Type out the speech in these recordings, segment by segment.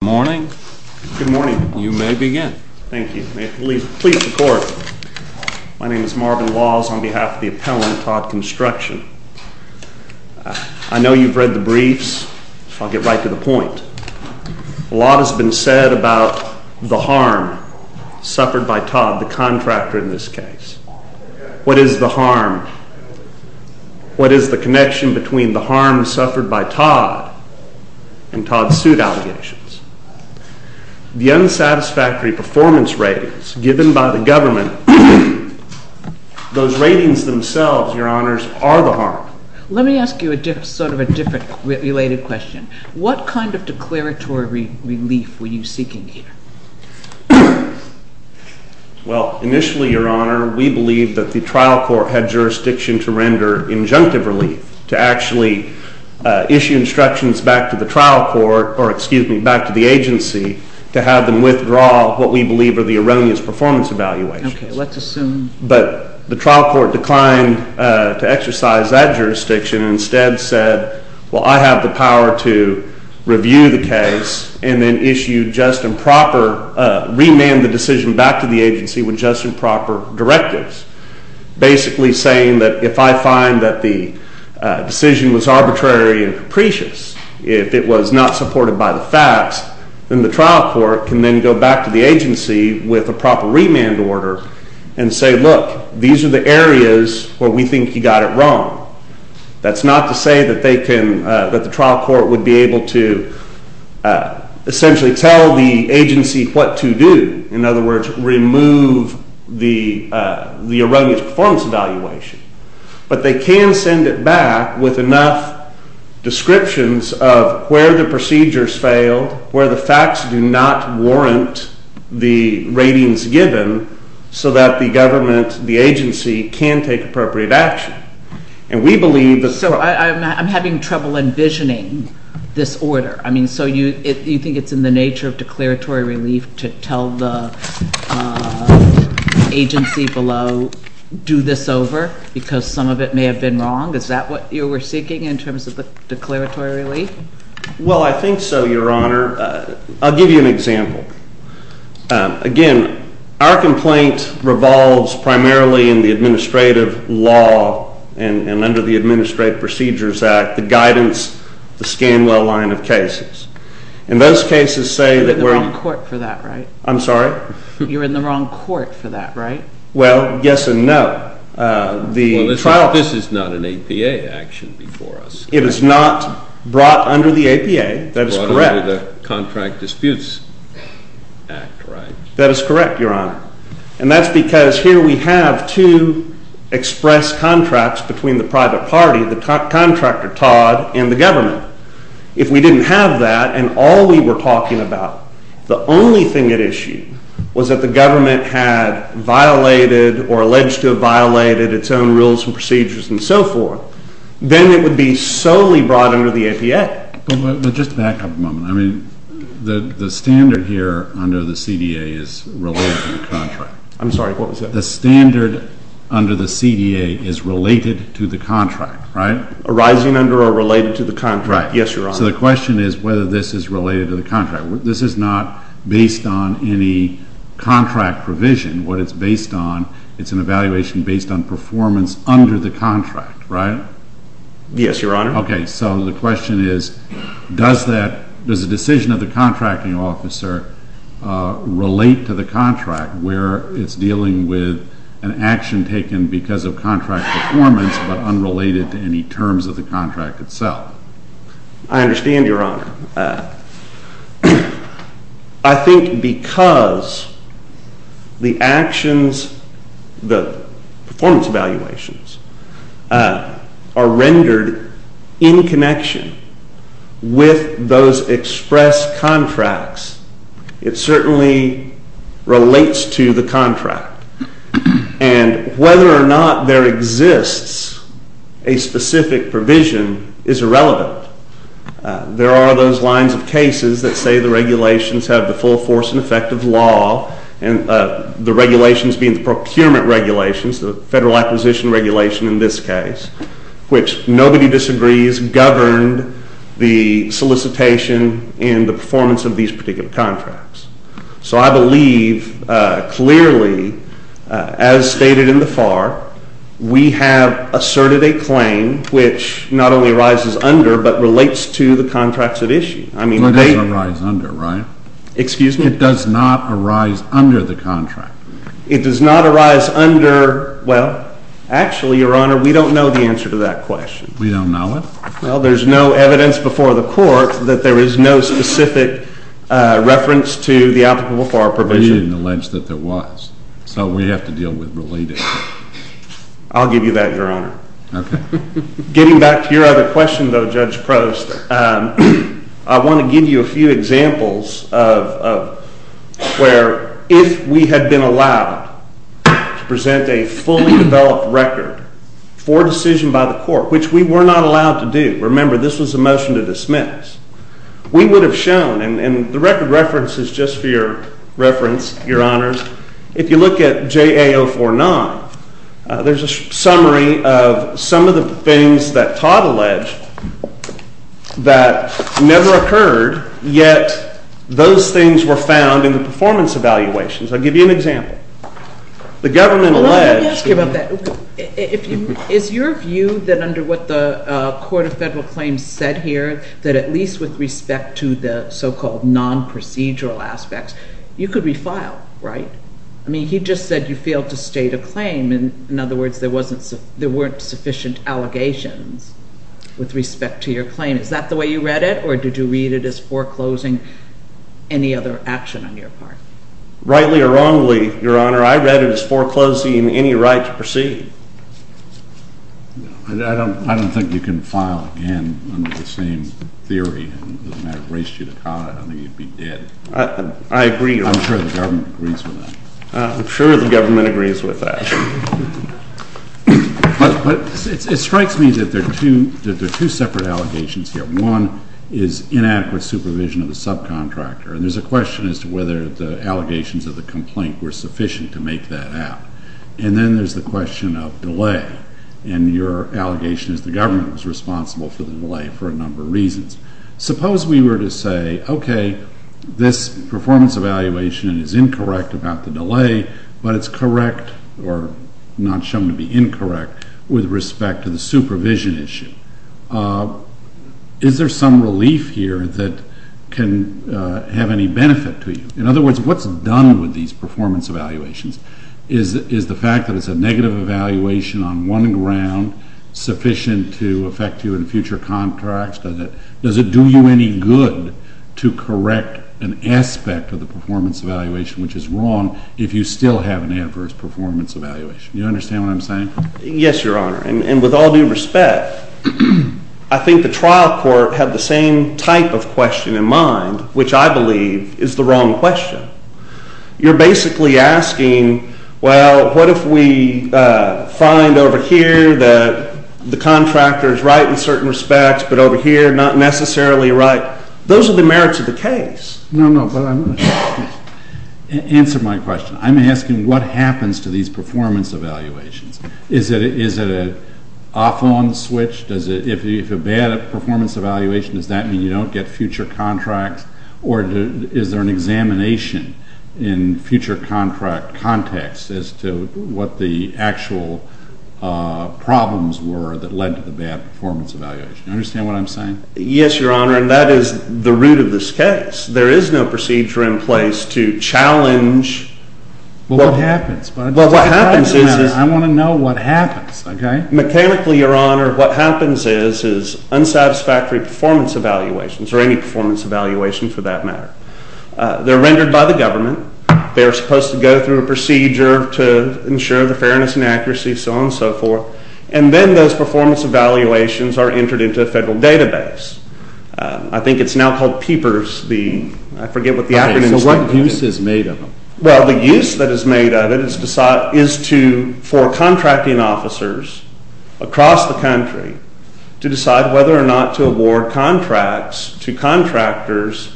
Good morning. Good morning. You may begin. Thank you. May it please the Court, my name is Marvin Laws on behalf of the appellant, Todd Construction. I know you've read the briefs, so I'll get right to the point. A lot has been said about the harm suffered by Todd, the contractor in this case. What is the harm? What is the connection between the harm suffered by Todd and Todd's suit allegations? The unsatisfactory performance ratings given by the government, those ratings themselves, Your Honors, are the harm. Let me ask you a different, sort of a different related question. What kind of declaratory relief were you seeking here? Well, initially, Your Honor, we believed that the trial court had jurisdiction to render injunctive relief, to actually issue instructions back to the trial court, or excuse me, back to the agency to have them withdraw what we believe are the erroneous performance evaluations. Okay, let's assume. But the trial court declined to exercise that jurisdiction and instead said, well, I have the power to review the case and then issue just and proper, remand the decision back to the agency with just and proper directives, basically saying that if I find that the decision was arbitrary and capricious, if it was not supported by the facts, then the trial court can then go back to the agency with a proper remand order and say, look, these are the areas where we think you got it wrong. That's not to say that they can, that the trial court would be able to essentially tell the agency what to do, in other words, remove the erroneous performance evaluation. But they can send it back with enough descriptions of where the procedures failed, where the facts do not warrant the ratings given, so that the government, the agency, can take appropriate action. And we believe that... So I'm having trouble envisioning this order. I mean, so you think it's in the nature of declaratory relief to tell the agency below, do this over, because some of it may have been wrong? Is that what you were seeking in terms of the declaratory relief? Well, I think so, Your Honor. I'll give you an example. Again, our complaint revolves primarily in the administrative law and under the Administrative Procedures Act, the guidance, the Scanwell line of cases. And those cases say that we're... You're in the wrong court for that, right? I'm sorry? You're in the wrong court for that, right? Well, yes and no. The trial... Well, this is not an APA action before us. It is not brought under the APA. That is correct. Under the Contract Disputes Act, right? That is correct, Your Honor. And that's because here we have two express contracts between the private party, the contractor Todd, and the government. If we didn't have that and all we were talking about, the only thing at issue, was that the government had violated or alleged to have violated its own rules and procedures and so forth, then it would be solely brought under the APA. But just to back up a moment, I mean, the standard here under the CDA is related to the contract. I'm sorry, what was that? The standard under the CDA is related to the contract, right? Arising under or related to the contract. Right. Yes, Your Honor. So the question is whether this is related to the contract. This is not based on any contract provision. What it's based on, it's an evaluation based on performance under the contract, right? Yes, Your Honor. Okay. So the question is, does the decision of the contracting officer relate to the contract where it's dealing with an action taken because of contract performance but unrelated to any terms of the contract itself? I understand, Your Honor. I think because the actions, the performance evaluations are rendered in connection with those express contracts, it certainly relates to the contract. And whether or not there exists a specific provision is irrelevant. There are those lines of cases that say the regulations have the full force and effect of law and the regulations being the procurement regulations, the Federal Acquisition Regulation in this case, which nobody disagrees governed the solicitation and the performance of these particular contracts. So I believe clearly as stated in the FAR, we have asserted a claim which not only arises under but relates to the contracts at issue. I mean, they— It doesn't arise under, right? Excuse me? It does not arise under the contract. It does not arise under—well, actually, Your Honor, we don't know the answer to that question. We don't know it? Well, there's no evidence before the Court that there is no specific reference to the applicable FAR provision. We didn't allege that there was. So we have to deal with related— I'll give you that, Your Honor. Okay. Getting back to your other question, though, Judge Prost, I want to give you a few examples of where if we had been allowed to present a fully developed record for decision by the Court, which we were not allowed to do—remember, this was a motion to dismiss—we would have shown—and the record reference is just for your reference, Your Honors—if you look at JA049, there's a summary of some of the things that Todd alleged that never occurred, yet those things were found in the performance evaluations. I'll give you an example. The government alleged— Well, let me ask you about that. Is your view that under what the Court of Federal Claims said here, that at least with respect to the so-called non-procedural aspects, you could refile, right? I mean, he just said you failed to state a claim. In other words, there weren't sufficient allegations with respect to your claim. Is that the way you read it, or did you read it as foreclosing any other action on your part? Rightly or wrongly, Your Honor, I read it as foreclosing any right to proceed. I don't think you can file again under the same theory. It doesn't matter. I raised you to comment. I think you'd be dead. I agree. I'm sure the government agrees with that. I'm sure the government agrees with that. But it strikes me that there are two separate allegations here. One is inadequate supervision of the subcontractor, and there's a question as to whether the allegations of the complaint were sufficient to make that out. And then there's the question of delay, and your allegation is the government was responsible for the delay for a number of reasons. Suppose we were to say, okay, this performance evaluation is incorrect about the delay, but it's correct or not shown to be incorrect with respect to the supervision issue. Is there some relief here that can have any benefit to you? In other words, what's done with these performance evaluations? Is the fact that it's a negative evaluation on one ground sufficient to affect you in Does it do you any good to correct an aspect of the performance evaluation which is wrong if you still have an adverse performance evaluation? You understand what I'm saying? Yes, Your Honor. And with all due respect, I think the trial court had the same type of question in mind, which I believe is the wrong question. You're basically asking, well, what if we find over here that the contractor is right in certain respects, but over here, not necessarily right? Those are the merits of the case. No, no, but I'm going to answer my question. I'm asking what happens to these performance evaluations? Is it an off-on switch? If you have a bad performance evaluation, does that mean you don't get future contracts? Or is there an examination in future contract context as to what the actual problems were that led to the bad performance evaluation? You understand what I'm saying? Yes, Your Honor. And that is the root of this case. There is no procedure in place to challenge what happens, but I want to know what happens. Mechanically, Your Honor, what happens is, is unsatisfactory performance evaluations or any performance evaluation for that matter. They're rendered by the government. They're supposed to go through a procedure to ensure the fairness and accuracy, so on and so forth. And then those performance evaluations are entered into a federal database. I think it's now called PEPERS, I forget what the acronym is. Okay, so what use is made of them? Well, the use that is made of it is for contracting officers across the country to decide whether or not to award contracts to contractors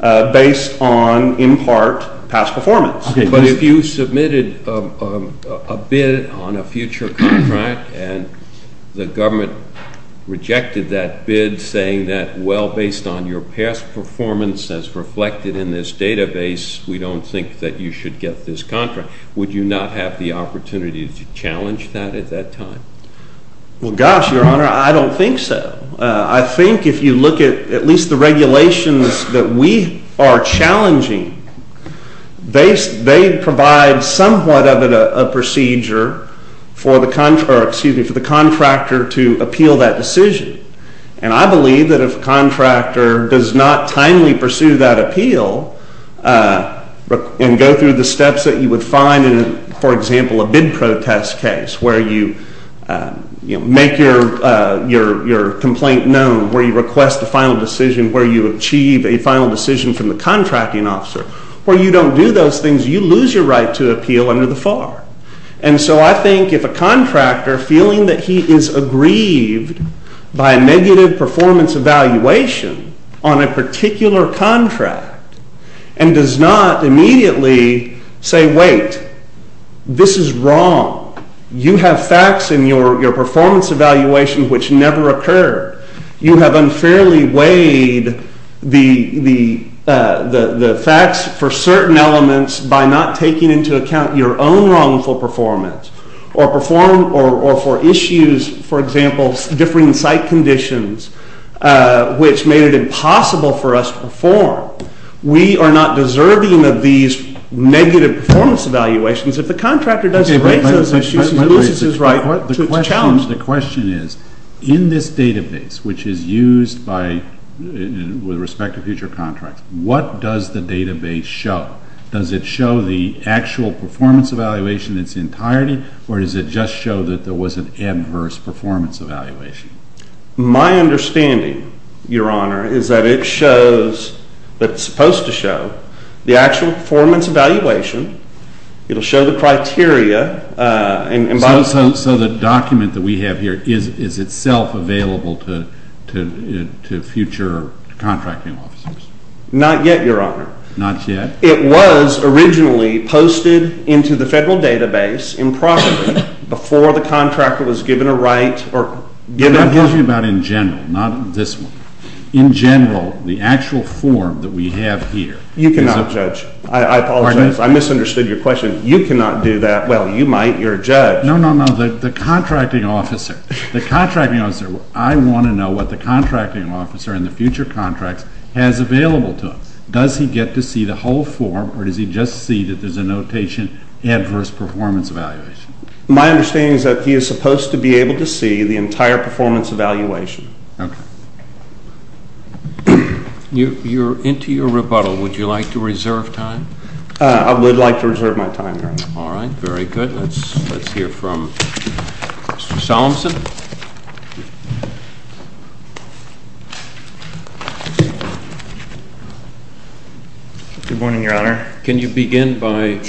based on, in part, past performance. But if you submitted a bid on a future contract and the government rejected that bid saying that, well, based on your past performance as reflected in this database, we don't think that you should get this contract, would you not have the opportunity to challenge that at that time? Well, gosh, Your Honor, I don't think so. I think if you look at at least the regulations that we are challenging, they provide somewhat of a procedure for the contractor to appeal that decision. And I believe that if a contractor does not timely pursue that appeal and go through the complaint known, where you request a final decision, where you achieve a final decision from the contracting officer, where you don't do those things, you lose your right to appeal under the FAR. And so I think if a contractor, feeling that he is aggrieved by a negative performance evaluation on a particular contract and does not immediately say, wait, this is wrong, you have facts in your performance evaluation which never occurred. You have unfairly weighed the facts for certain elements by not taking into account your own wrongful performance or for issues, for example, differing site conditions, which made it impossible for us to perform. We are not deserving of these negative performance evaluations. If the contractor does not raise those issues, he loses his right to challenge. The question is, in this database, which is used by, with respect to future contracts, what does the database show? Does it show the actual performance evaluation in its entirety or does it just show that there was an adverse performance evaluation? My understanding, Your Honor, is that it shows, that it is supposed to show, the actual performance evaluation. It will show the criteria. So the document that we have here is itself available to future contracting officers? Not yet, Your Honor. Not yet? It was originally posted into the federal database improperly before the contractor was given a right. I'm talking about in general, not this one. In general, the actual form that we have here. You cannot judge. I apologize. I misunderstood your question. You cannot do that. Well, you might. You're a judge. No, no, no. The contracting officer. The contracting officer. I want to know what the contracting officer in the future contracts has available to him. Does he get to see the whole form or does he just see that there's a notation, adverse performance evaluation? My understanding is that he is supposed to be able to see the entire performance evaluation. Okay. You're into your rebuttal. Would you like to reserve time? I would like to reserve my time, Your Honor. All right. Very good. Let's hear from Mr. Solemson. Good morning, Your Honor. Can you begin by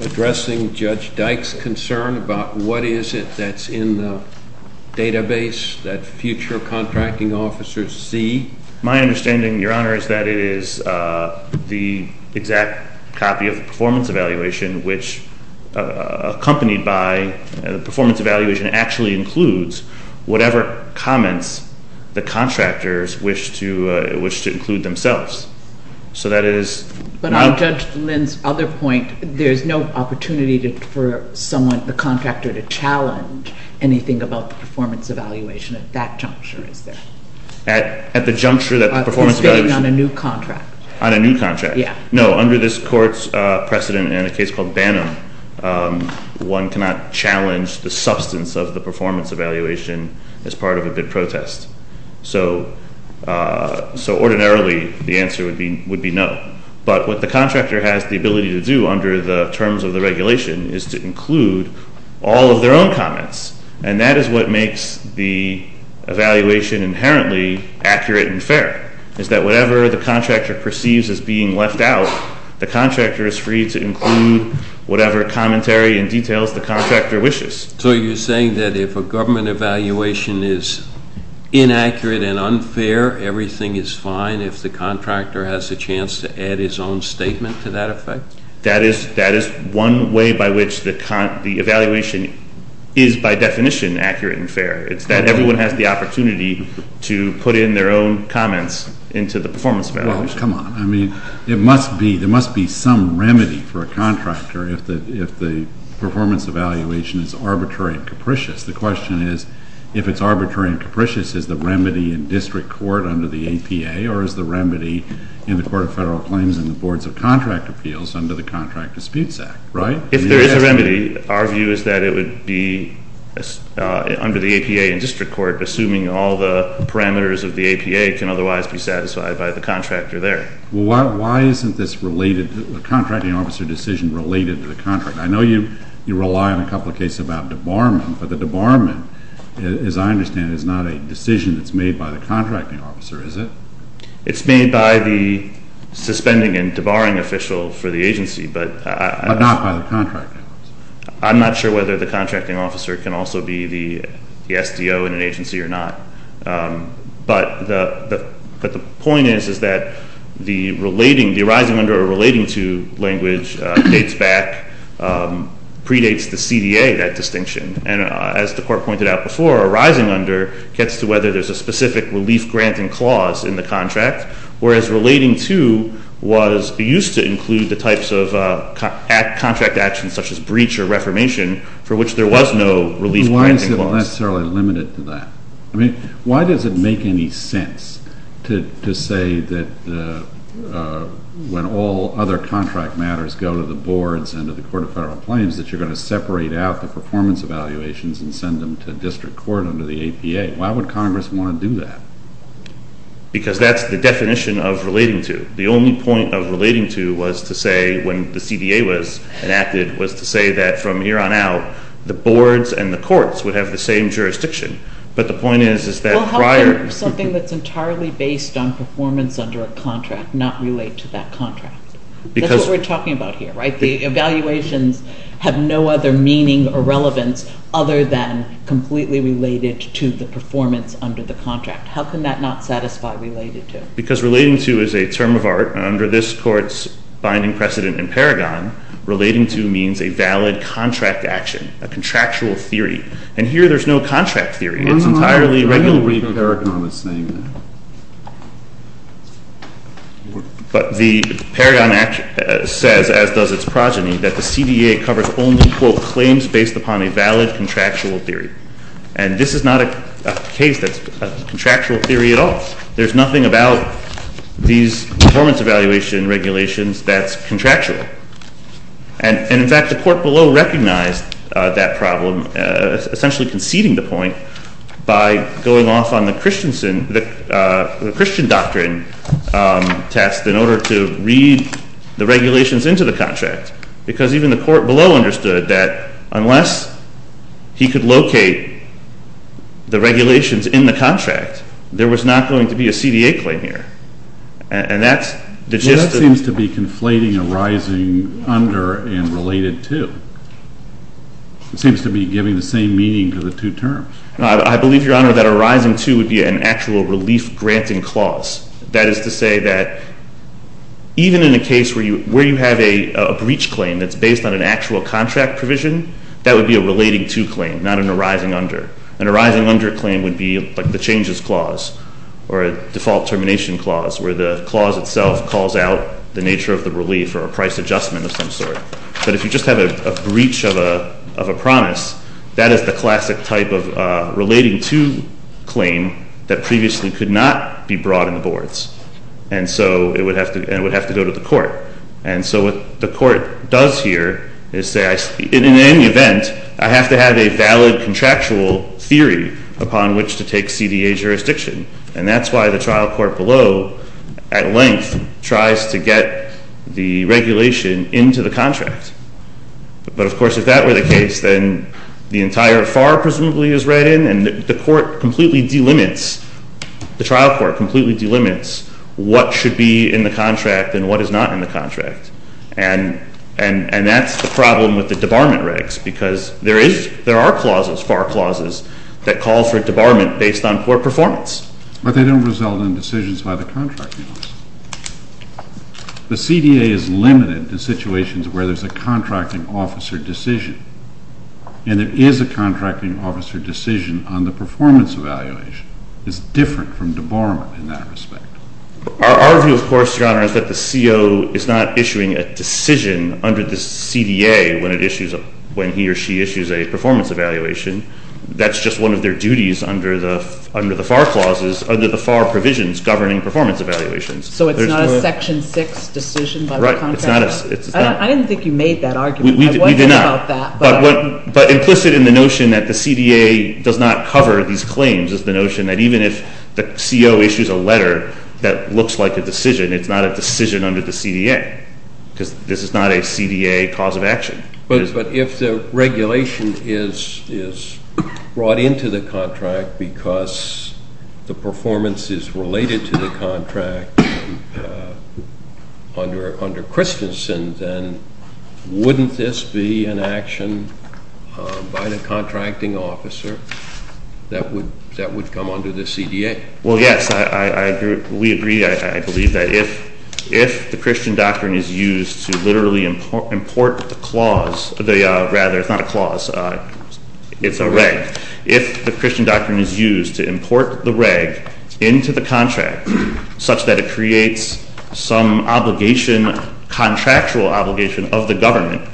addressing Judge Dyke's concern about what is it that's in the database that future contracting officers see? My understanding, Your Honor, is that it is the exact copy of the performance evaluation which accompanied by the performance evaluation actually includes whatever comments the contractors wish to include themselves. So that is- But on Judge Lynn's other point, there's no opportunity for someone, the contractor, to At the juncture that the performance evaluation- On a new contract. On a new contract. Yeah. No. Under this court's precedent in a case called Banham, one cannot challenge the substance of the performance evaluation as part of a bid protest. So ordinarily, the answer would be no. But what the contractor has the ability to do under the terms of the regulation is to include all of their own comments. And that is what makes the evaluation inherently accurate and fair, is that whatever the contractor perceives as being left out, the contractor is free to include whatever commentary and details the contractor wishes. So you're saying that if a government evaluation is inaccurate and unfair, everything is fine if the contractor has a chance to add his own statement to that effect? That is one way by which the evaluation is, by definition, accurate and fair. It's that everyone has the opportunity to put in their own comments into the performance evaluation. Well, come on. I mean, there must be some remedy for a contractor if the performance evaluation is arbitrary and capricious. The question is, if it's arbitrary and capricious, is the remedy in district court under the Contract Disputes Act, right? If there is a remedy, our view is that it would be under the APA in district court, assuming all the parameters of the APA can otherwise be satisfied by the contractor there. Why isn't this related, the contracting officer decision related to the contract? I know you rely on a couple of cases about debarment, but the debarment, as I understand it, is not a decision that's made by the contracting officer, is it? It's made by the suspending and debarring official for the agency, but I'm not sure whether the contracting officer can also be the SDO in an agency or not. But the point is, is that the relating, the arising under a relating to language dates back, predates the CDA, that distinction. And as the court pointed out before, arising under gets to whether there's a specific relief granting clause in the contract, whereas relating to was, used to include the types of contract actions such as breach or reformation, for which there was no relief granting clause. Why is it necessarily limited to that? Why does it make any sense to say that when all other contract matters go to the boards and to the Court of Federal Claims, that you're going to separate out the performance evaluations and send them to district court under the APA? Why would Congress want to do that? Because that's the definition of relating to. The only point of relating to was to say, when the CDA was enacted, was to say that from here on out, the boards and the courts would have the same jurisdiction. But the point is, is that prior... Well, how can something that's entirely based on performance under a contract not relate to that contract? Because... That's what we're talking about here, right? The evaluations have no other meaning or relevance other than completely related to the performance under the contract. How can that not satisfy related to? Because relating to is a term of art, and under this Court's binding precedent in Paragon, relating to means a valid contract action, a contractual theory. And here, there's no contract theory. It's entirely regular... I don't believe Paragon is saying that. But the Paragon Act says, as does its progeny, that the CDA covers only, quote, claims based upon a valid contractual theory. And this is not a case that's a contractual theory at all. There's nothing about these performance evaluation regulations that's contractual. And in fact, the Court below recognized that problem, essentially conceding the point by going off on the Christian doctrine test in order to read the regulations into the contract. Because even the Court below understood that unless he could locate the regulations in the contract, there was not going to be a CDA claim here. And that's... Well, that seems to be conflating arising under and related to. It seems to be giving the same meaning to the two terms. No, I believe, Your Honor, that arising to would be an actual relief-granting clause. That is to say that even in a case where you have a breach claim that's based on an actual contract provision, that would be a relating to claim, not an arising under. An arising under claim would be like the changes clause or a default termination clause, where the clause itself calls out the nature of the relief or a price adjustment of some sort. But if you just have a breach of a promise, that is the classic type of relating to claim that previously could not be brought in the boards. And so it would have to go to the Court. And so what the Court does here is say, in any event, I have to have a valid contractual theory upon which to take CDA jurisdiction. And that's why the trial court below, at length, tries to get the regulation into the contract. But of course, if that were the case, then the entire FAR, presumably, is read in. And the court completely delimits, the trial court completely delimits what should be in the contract and what is not in the contract. And that's the problem with the debarment regs, because there are clauses, FAR clauses, that call for a debarment based on poor performance. But they don't result in decisions by the contracting office. The CDA is limited to situations where there's a contracting officer decision. And there is a contracting officer decision on the performance evaluation. It's different from debarment in that respect. Our view, of course, Your Honor, is that the CO is not issuing a decision under the CDA when he or she issues a performance evaluation. That's just one of their duties under the FAR clauses, under the FAR provisions governing performance evaluations. So it's not a section six decision by the contracting office? Right, it's not a- I didn't think you made that argument. We did not. I was thinking about that. But implicit in the notion that the CDA does not cover these claims is the notion that even if the CO issues a letter that looks like a decision, it's not a decision under the CDA. because this is not a CDA cause of action. But if the regulation is brought into the contract because the performance is related to the contract under Christensen, then wouldn't this be an action by the contracting officer that would come under the CDA? Well, yes, we agree. I believe that if the Christian doctrine is used to literally import the clause, the rather, it's not a clause, it's a reg. If the Christian doctrine is used to import the reg into the contract, such that it creates some obligation, contractual obligation of the government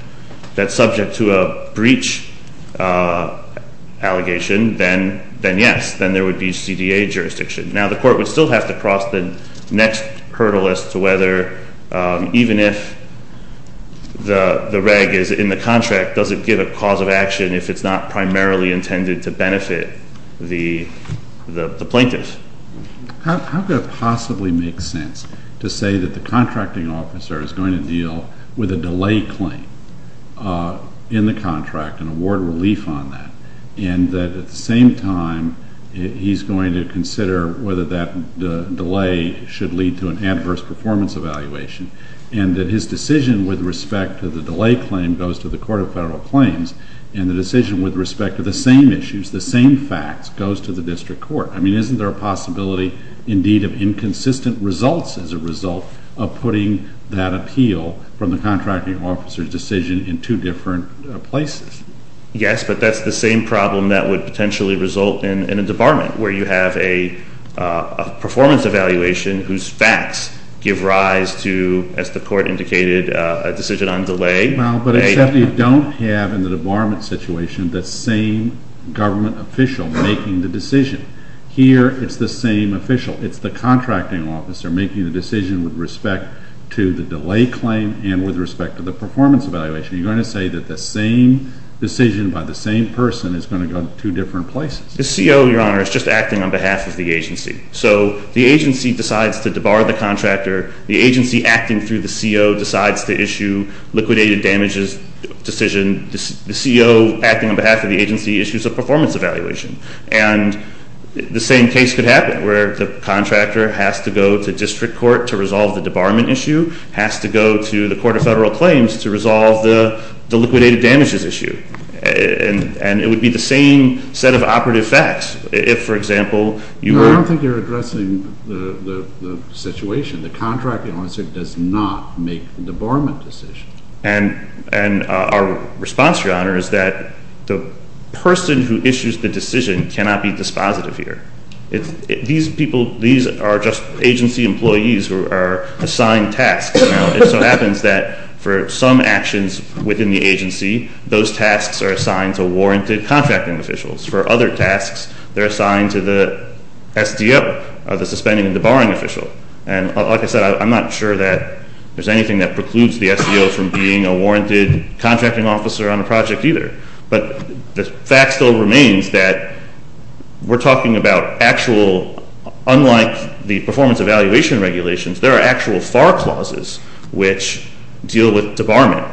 that's subject to a breach allegation, then yes, then there would be CDA jurisdiction. Now the court would still have to cross the next hurdle as to whether, even if the reg is in the contract, does it give a cause of action if it's not primarily intended to benefit the plaintiff? How could it possibly make sense to say that the contracting officer is going to deal with a delay claim in the contract and award relief on that? And that at the same time, he's going to consider whether that delay should lead to an adverse performance evaluation. And that his decision with respect to the delay claim goes to the Court of Federal Claims. And the decision with respect to the same issues, the same facts, goes to the district court. I mean, isn't there a possibility, indeed, of inconsistent results as a result of putting that appeal from the contracting officer's decision in two different places? Yes, but that's the same problem that would potentially result in a debarment, where you have a performance evaluation whose facts give rise to, as the court indicated, a decision on delay. Well, but except you don't have, in the debarment situation, the same government official making the decision. Here, it's the same official. It's the contracting officer making the decision with respect to the delay claim and with respect to the performance evaluation. You're going to say that the same decision by the same person is going to go to two different places. The CO, Your Honor, is just acting on behalf of the agency. So the agency decides to debar the contractor. The agency, acting through the CO, decides to issue liquidated damages decision. The CO, acting on behalf of the agency, issues a performance evaluation. And the same case could happen, where the contractor has to go to district court to resolve the debarment issue, has to go to the court of federal claims to resolve the liquidated damages issue. And it would be the same set of operative facts if, for example, you were- I don't think you're addressing the situation. The contracting officer does not make the debarment decision. And our response, Your Honor, is that the person who issues the decision cannot be dispositive here. These people, these are just agency employees who are assigned tasks. Now, it so happens that for some actions within the agency, those tasks are assigned to warranted contracting officials. For other tasks, they're assigned to the SDO, the suspending and debarring official. And like I said, I'm not sure that there's anything that precludes the SDO from being a warranted contracting officer on a project either. But the fact still remains that we're talking about actual, unlike the performance evaluation regulations, there are actual FAR clauses which deal with debarment.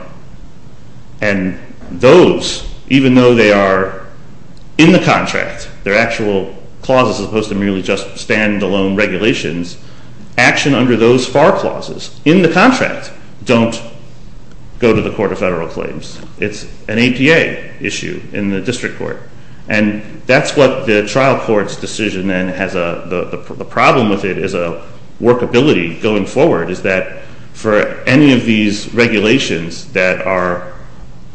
And those, even though they are in the contract, they're actual clauses as opposed to merely just standalone regulations, action under those FAR clauses in the contract don't go to the court of federal claims. It's an ADA issue in the district court. And that's what the trial court's decision then has a problem with it as a workability going forward, is that for any of these regulations that are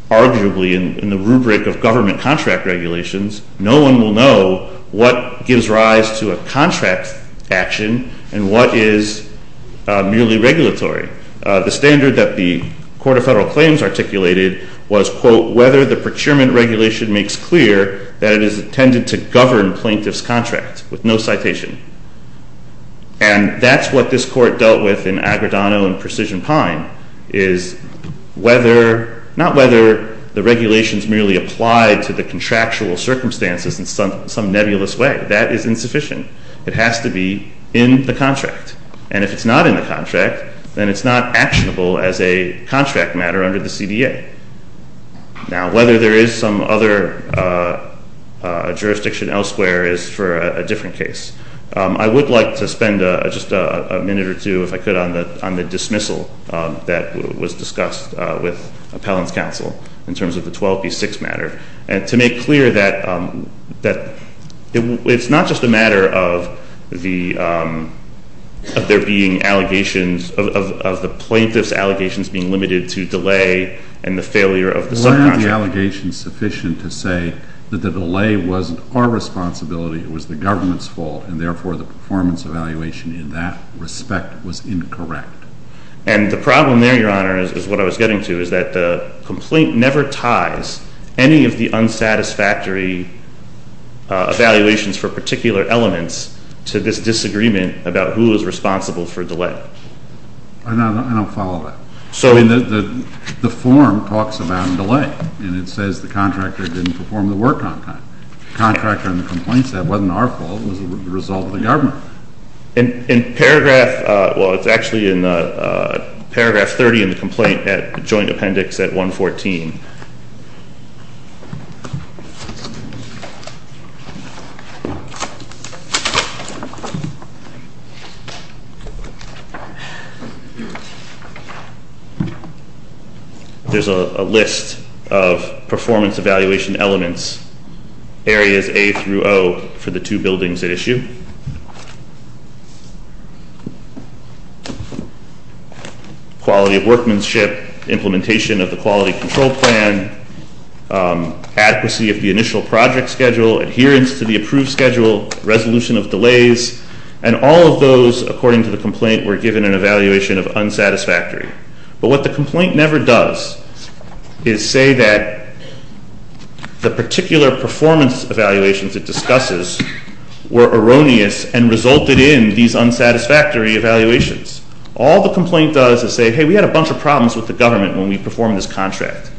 arguably in the rubric of government contract regulations, no one will know what gives rise to a contract action and what is merely regulatory. The standard that the Court of Federal Claims articulated was, quote, whether the procurement regulation makes clear that it is intended to govern plaintiff's contract with no citation. And that's what this court dealt with in Agredano and Precision Pine, is not whether the regulations merely apply to the contractual circumstances in some nebulous way. That is insufficient. It has to be in the contract. And if it's not in the contract, then it's not actionable as a contract matter under the CDA. Now, whether there is some other jurisdiction elsewhere is for a different case. I would like to spend just a minute or two, if I could, on the dismissal that was discussed with appellant's counsel in terms of the 12B6 matter. And to make clear that it's not just a matter of the plaintiff's allegations being limited to delay and the failure of the subcontract. Weren't the allegations sufficient to say that the delay wasn't our responsibility, it was the government's fault, and therefore the performance evaluation in that respect was incorrect? And the problem there, Your Honor, is what I was getting to, is that the complaint never ties any of the unsatisfactory evaluations for particular elements to this disagreement about who is responsible for delay. I don't follow that. The form talks about delay, and it says the contractor didn't perform the work on time. The contractor in the complaint said it wasn't our fault, it was the result of the government. In paragraph, well, it's actually in paragraph 30 in the complaint at joint appendix at 114. There's a list of performance evaluation elements, areas A through O for the two buildings at issue. Quality of workmanship, implementation of the quality control plan, adequacy of the initial project schedule, adherence to the approved schedule, resolution of delays. And all of those, according to the complaint, were given an evaluation of unsatisfactory. But what the complaint never does is say that the particular performance evaluations it discusses were erroneous and resulted in these unsatisfactory evaluations. All the complaint does is say, hey, we had a bunch of problems with the government when we performed this contract.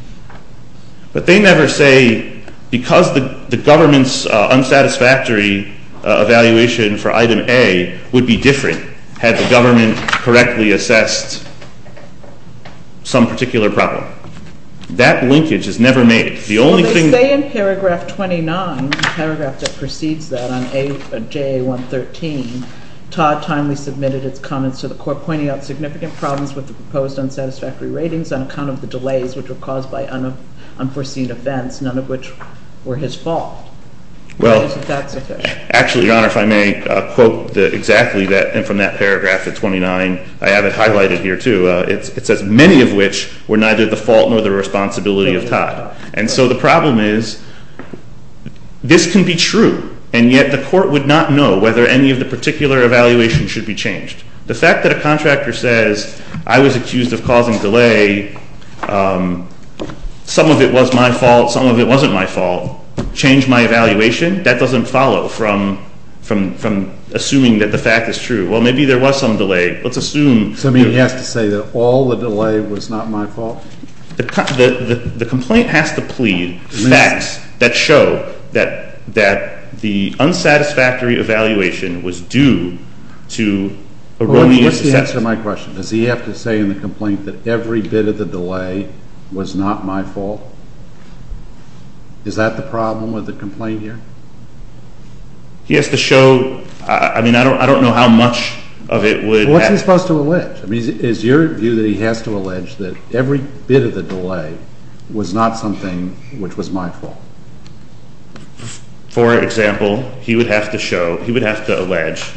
But they never say, because the government's unsatisfactory evaluation for item A would be different had the government correctly assessed some particular problem. That linkage is never made. The only thing- Say in paragraph 29, the paragraph that precedes that on JA113, Todd timely submitted its comments to the court, pointing out significant problems with the proposed unsatisfactory ratings on account of the delays which were caused by unforeseen events, none of which were his fault. Why isn't that sufficient? Actually, Your Honor, if I may quote exactly that, and from that paragraph at 29, I have it highlighted here too. It says, many of which were neither the fault nor the responsibility of Todd. And so the problem is, this can be true, and yet the court would not know whether any of the particular evaluations should be changed. The fact that a contractor says, I was accused of causing delay, some of it was my fault, some of it wasn't my fault, changed my evaluation, that doesn't follow from assuming that the fact is true. Well, maybe there was some delay. Let's assume- So you mean he has to say that all the delay was not my fault? The complaint has to plead facts that show that the unsatisfactory evaluation was due to erroneous assessment. Well, what's the answer to my question? Does he have to say in the complaint that every bit of the delay was not my fault? Is that the problem with the complaint here? He has to show, I mean, I don't know how much of it would- What's he supposed to allege? Is your view that he has to allege that every bit of the delay was not something which was my fault? For example, he would have to show, he would have to allege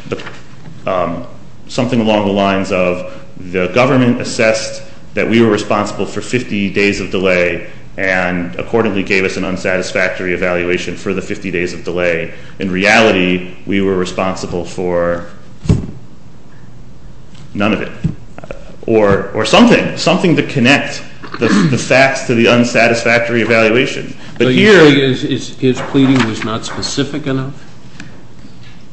something along the lines of the government assessed that we were responsible for 50 days of delay and accordingly gave us an unsatisfactory evaluation for the 50 days of delay. In reality, we were responsible for none of it. Or something, something to connect the facts to the unsatisfactory evaluation. But here- So you're saying his pleading was not specific enough?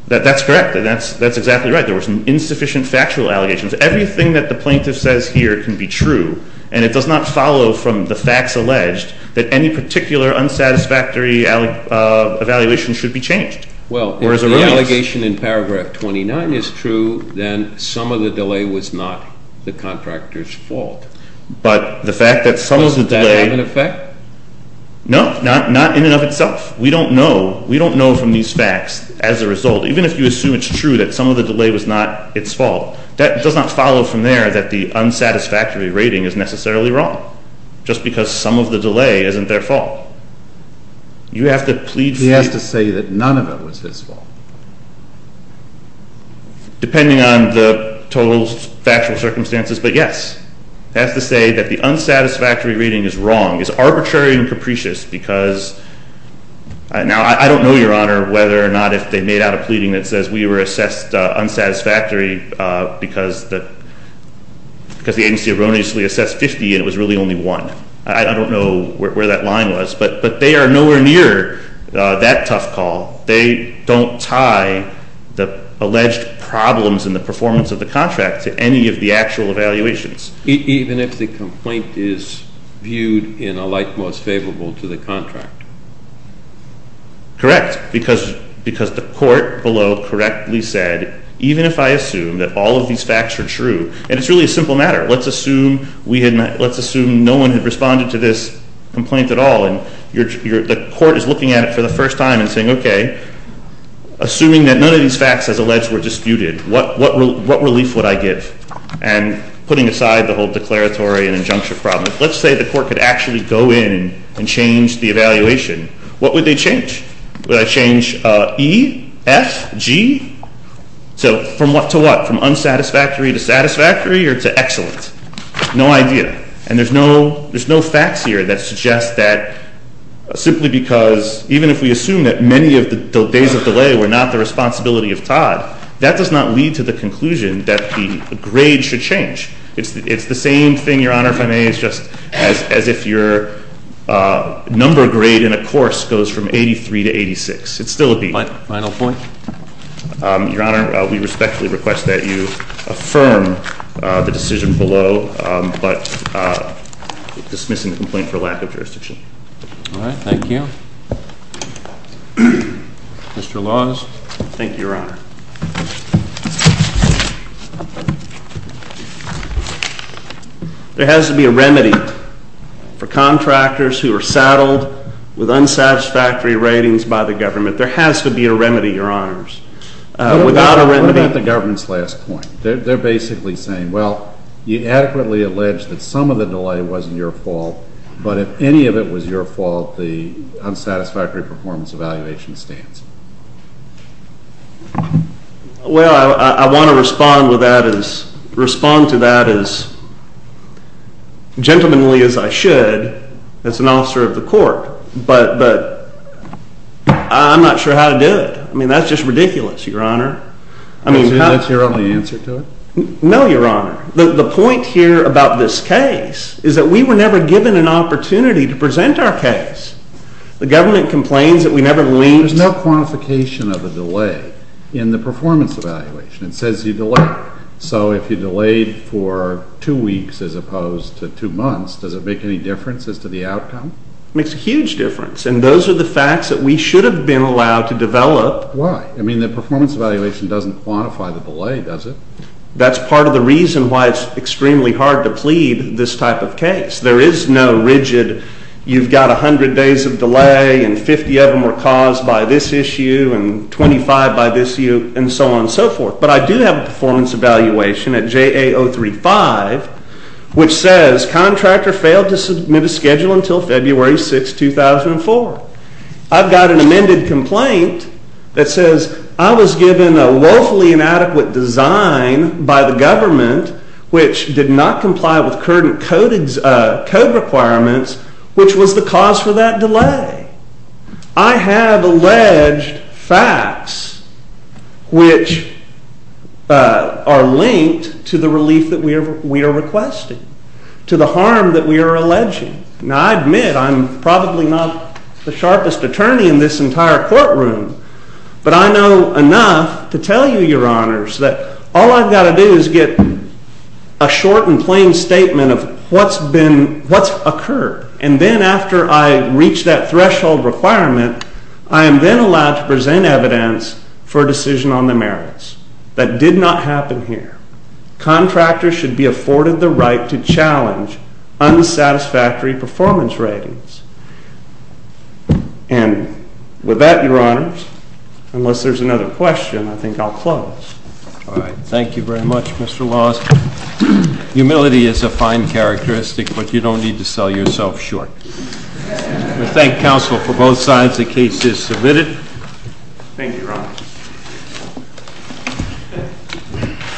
That's correct, and that's exactly right. There were some insufficient factual allegations. Everything that the plaintiff says here can be true, and it does not follow from the facts alleged that any particular unsatisfactory evaluation should be changed. Well, if the allegation in paragraph 29 is true, then some of the delay was not the contractor's fault. But the fact that some of the delay- Does that have an effect? No, not in and of itself. We don't know from these facts as a result. Even if you assume it's true that some of the delay was not its fault, that does not follow from there that the unsatisfactory rating is necessarily wrong. Just because some of the delay isn't their fault. You have to plead- He has to say that none of it was his fault. Depending on the total factual circumstances, but yes. He has to say that the unsatisfactory rating is wrong, is arbitrary and capricious because- Now, I don't know, Your Honor, whether or not if they made out a pleading that says we were assessed unsatisfactory because the agency erroneously assessed 50 and it was really only one. I don't know where that line was, but they are nowhere near that tough call. They don't tie the alleged problems in the performance of the contract to any of the actual evaluations. Even if the complaint is viewed in a light most favorable to the contract? Correct, because the court below correctly said, even if I assume that all of these facts are true, and it's really a simple matter. Let's assume no one had responded to this complaint at all. And the court is looking at it for the first time and saying, okay, assuming that none of these facts, as alleged, were disputed, what relief would I give? And putting aside the whole declaratory and injunctive problem, let's say the court could actually go in and change the evaluation. What would they change? Would they change E, F, G? So to what, from unsatisfactory to satisfactory or to excellent? No idea. And there's no facts here that suggest that simply because, even if we assume that many of the days of delay were not the responsibility of Todd, that does not lead to the conclusion that the grade should change. It's the same thing, Your Honor, if I may, as if your number grade in a course goes from 83 to 86. It's still a B. Final point? Your Honor, we respectfully request that you affirm the decision below, but dismissing the complaint for lack of jurisdiction. All right, thank you. Mr. Laws. Thank you, Your Honor. There has to be a remedy for contractors who are saddled with unsatisfactory ratings by the government. There has to be a remedy, Your Honors. Without a remedy- What about the government's last point? They're basically saying, well, you adequately allege that some of the delay wasn't your fault, but if any of it was your fault, the unsatisfactory performance evaluation stands. Well, I want to respond to that as gentlemanly as I should as an officer of the court. But I'm not sure how to do it. I mean, that's just ridiculous, Your Honor. I mean- That's your only answer to it? No, Your Honor. The point here about this case is that we were never given an opportunity to present our case. The government complains that we never linked- There's no quantification of a delay in the performance evaluation. It says you delayed. So if you delayed for two weeks as opposed to two months, does it make any difference as to the outcome? It makes a huge difference. And those are the facts that we should have been allowed to develop. Why? I mean, the performance evaluation doesn't quantify the delay, does it? That's part of the reason why it's extremely hard to plead this type of case. There is no rigid, you've got 100 days of delay, and 50 of them were caused by this issue, and 25 by this issue, and so on and so forth. But I do have a performance evaluation at JA 035, which says, contractor failed to submit a schedule until February 6, 2004. I've got an amended complaint that says I was given a woefully inadequate design by the government, which did not comply with current code requirements, which was the cause for that delay. I have alleged facts which are linked to the relief that we are requesting, to the harm that we are alleging. Now, I admit, I'm probably not the sharpest attorney in this entire courtroom, but I know enough to tell you, your honors, that all I've got to do is get a short and plain statement of what's occurred. And then after I reach that threshold requirement, I am then allowed to present evidence for a decision on the merits. That did not happen here. Contractors should be afforded the right to challenge unsatisfactory performance ratings. And with that, your honors, unless there's another question, I think I'll close. All right, thank you very much, Mr. Laws. Humility is a fine characteristic, but you don't need to sell yourself short. We thank counsel for both sides. The case is submitted. Thank you, your honor.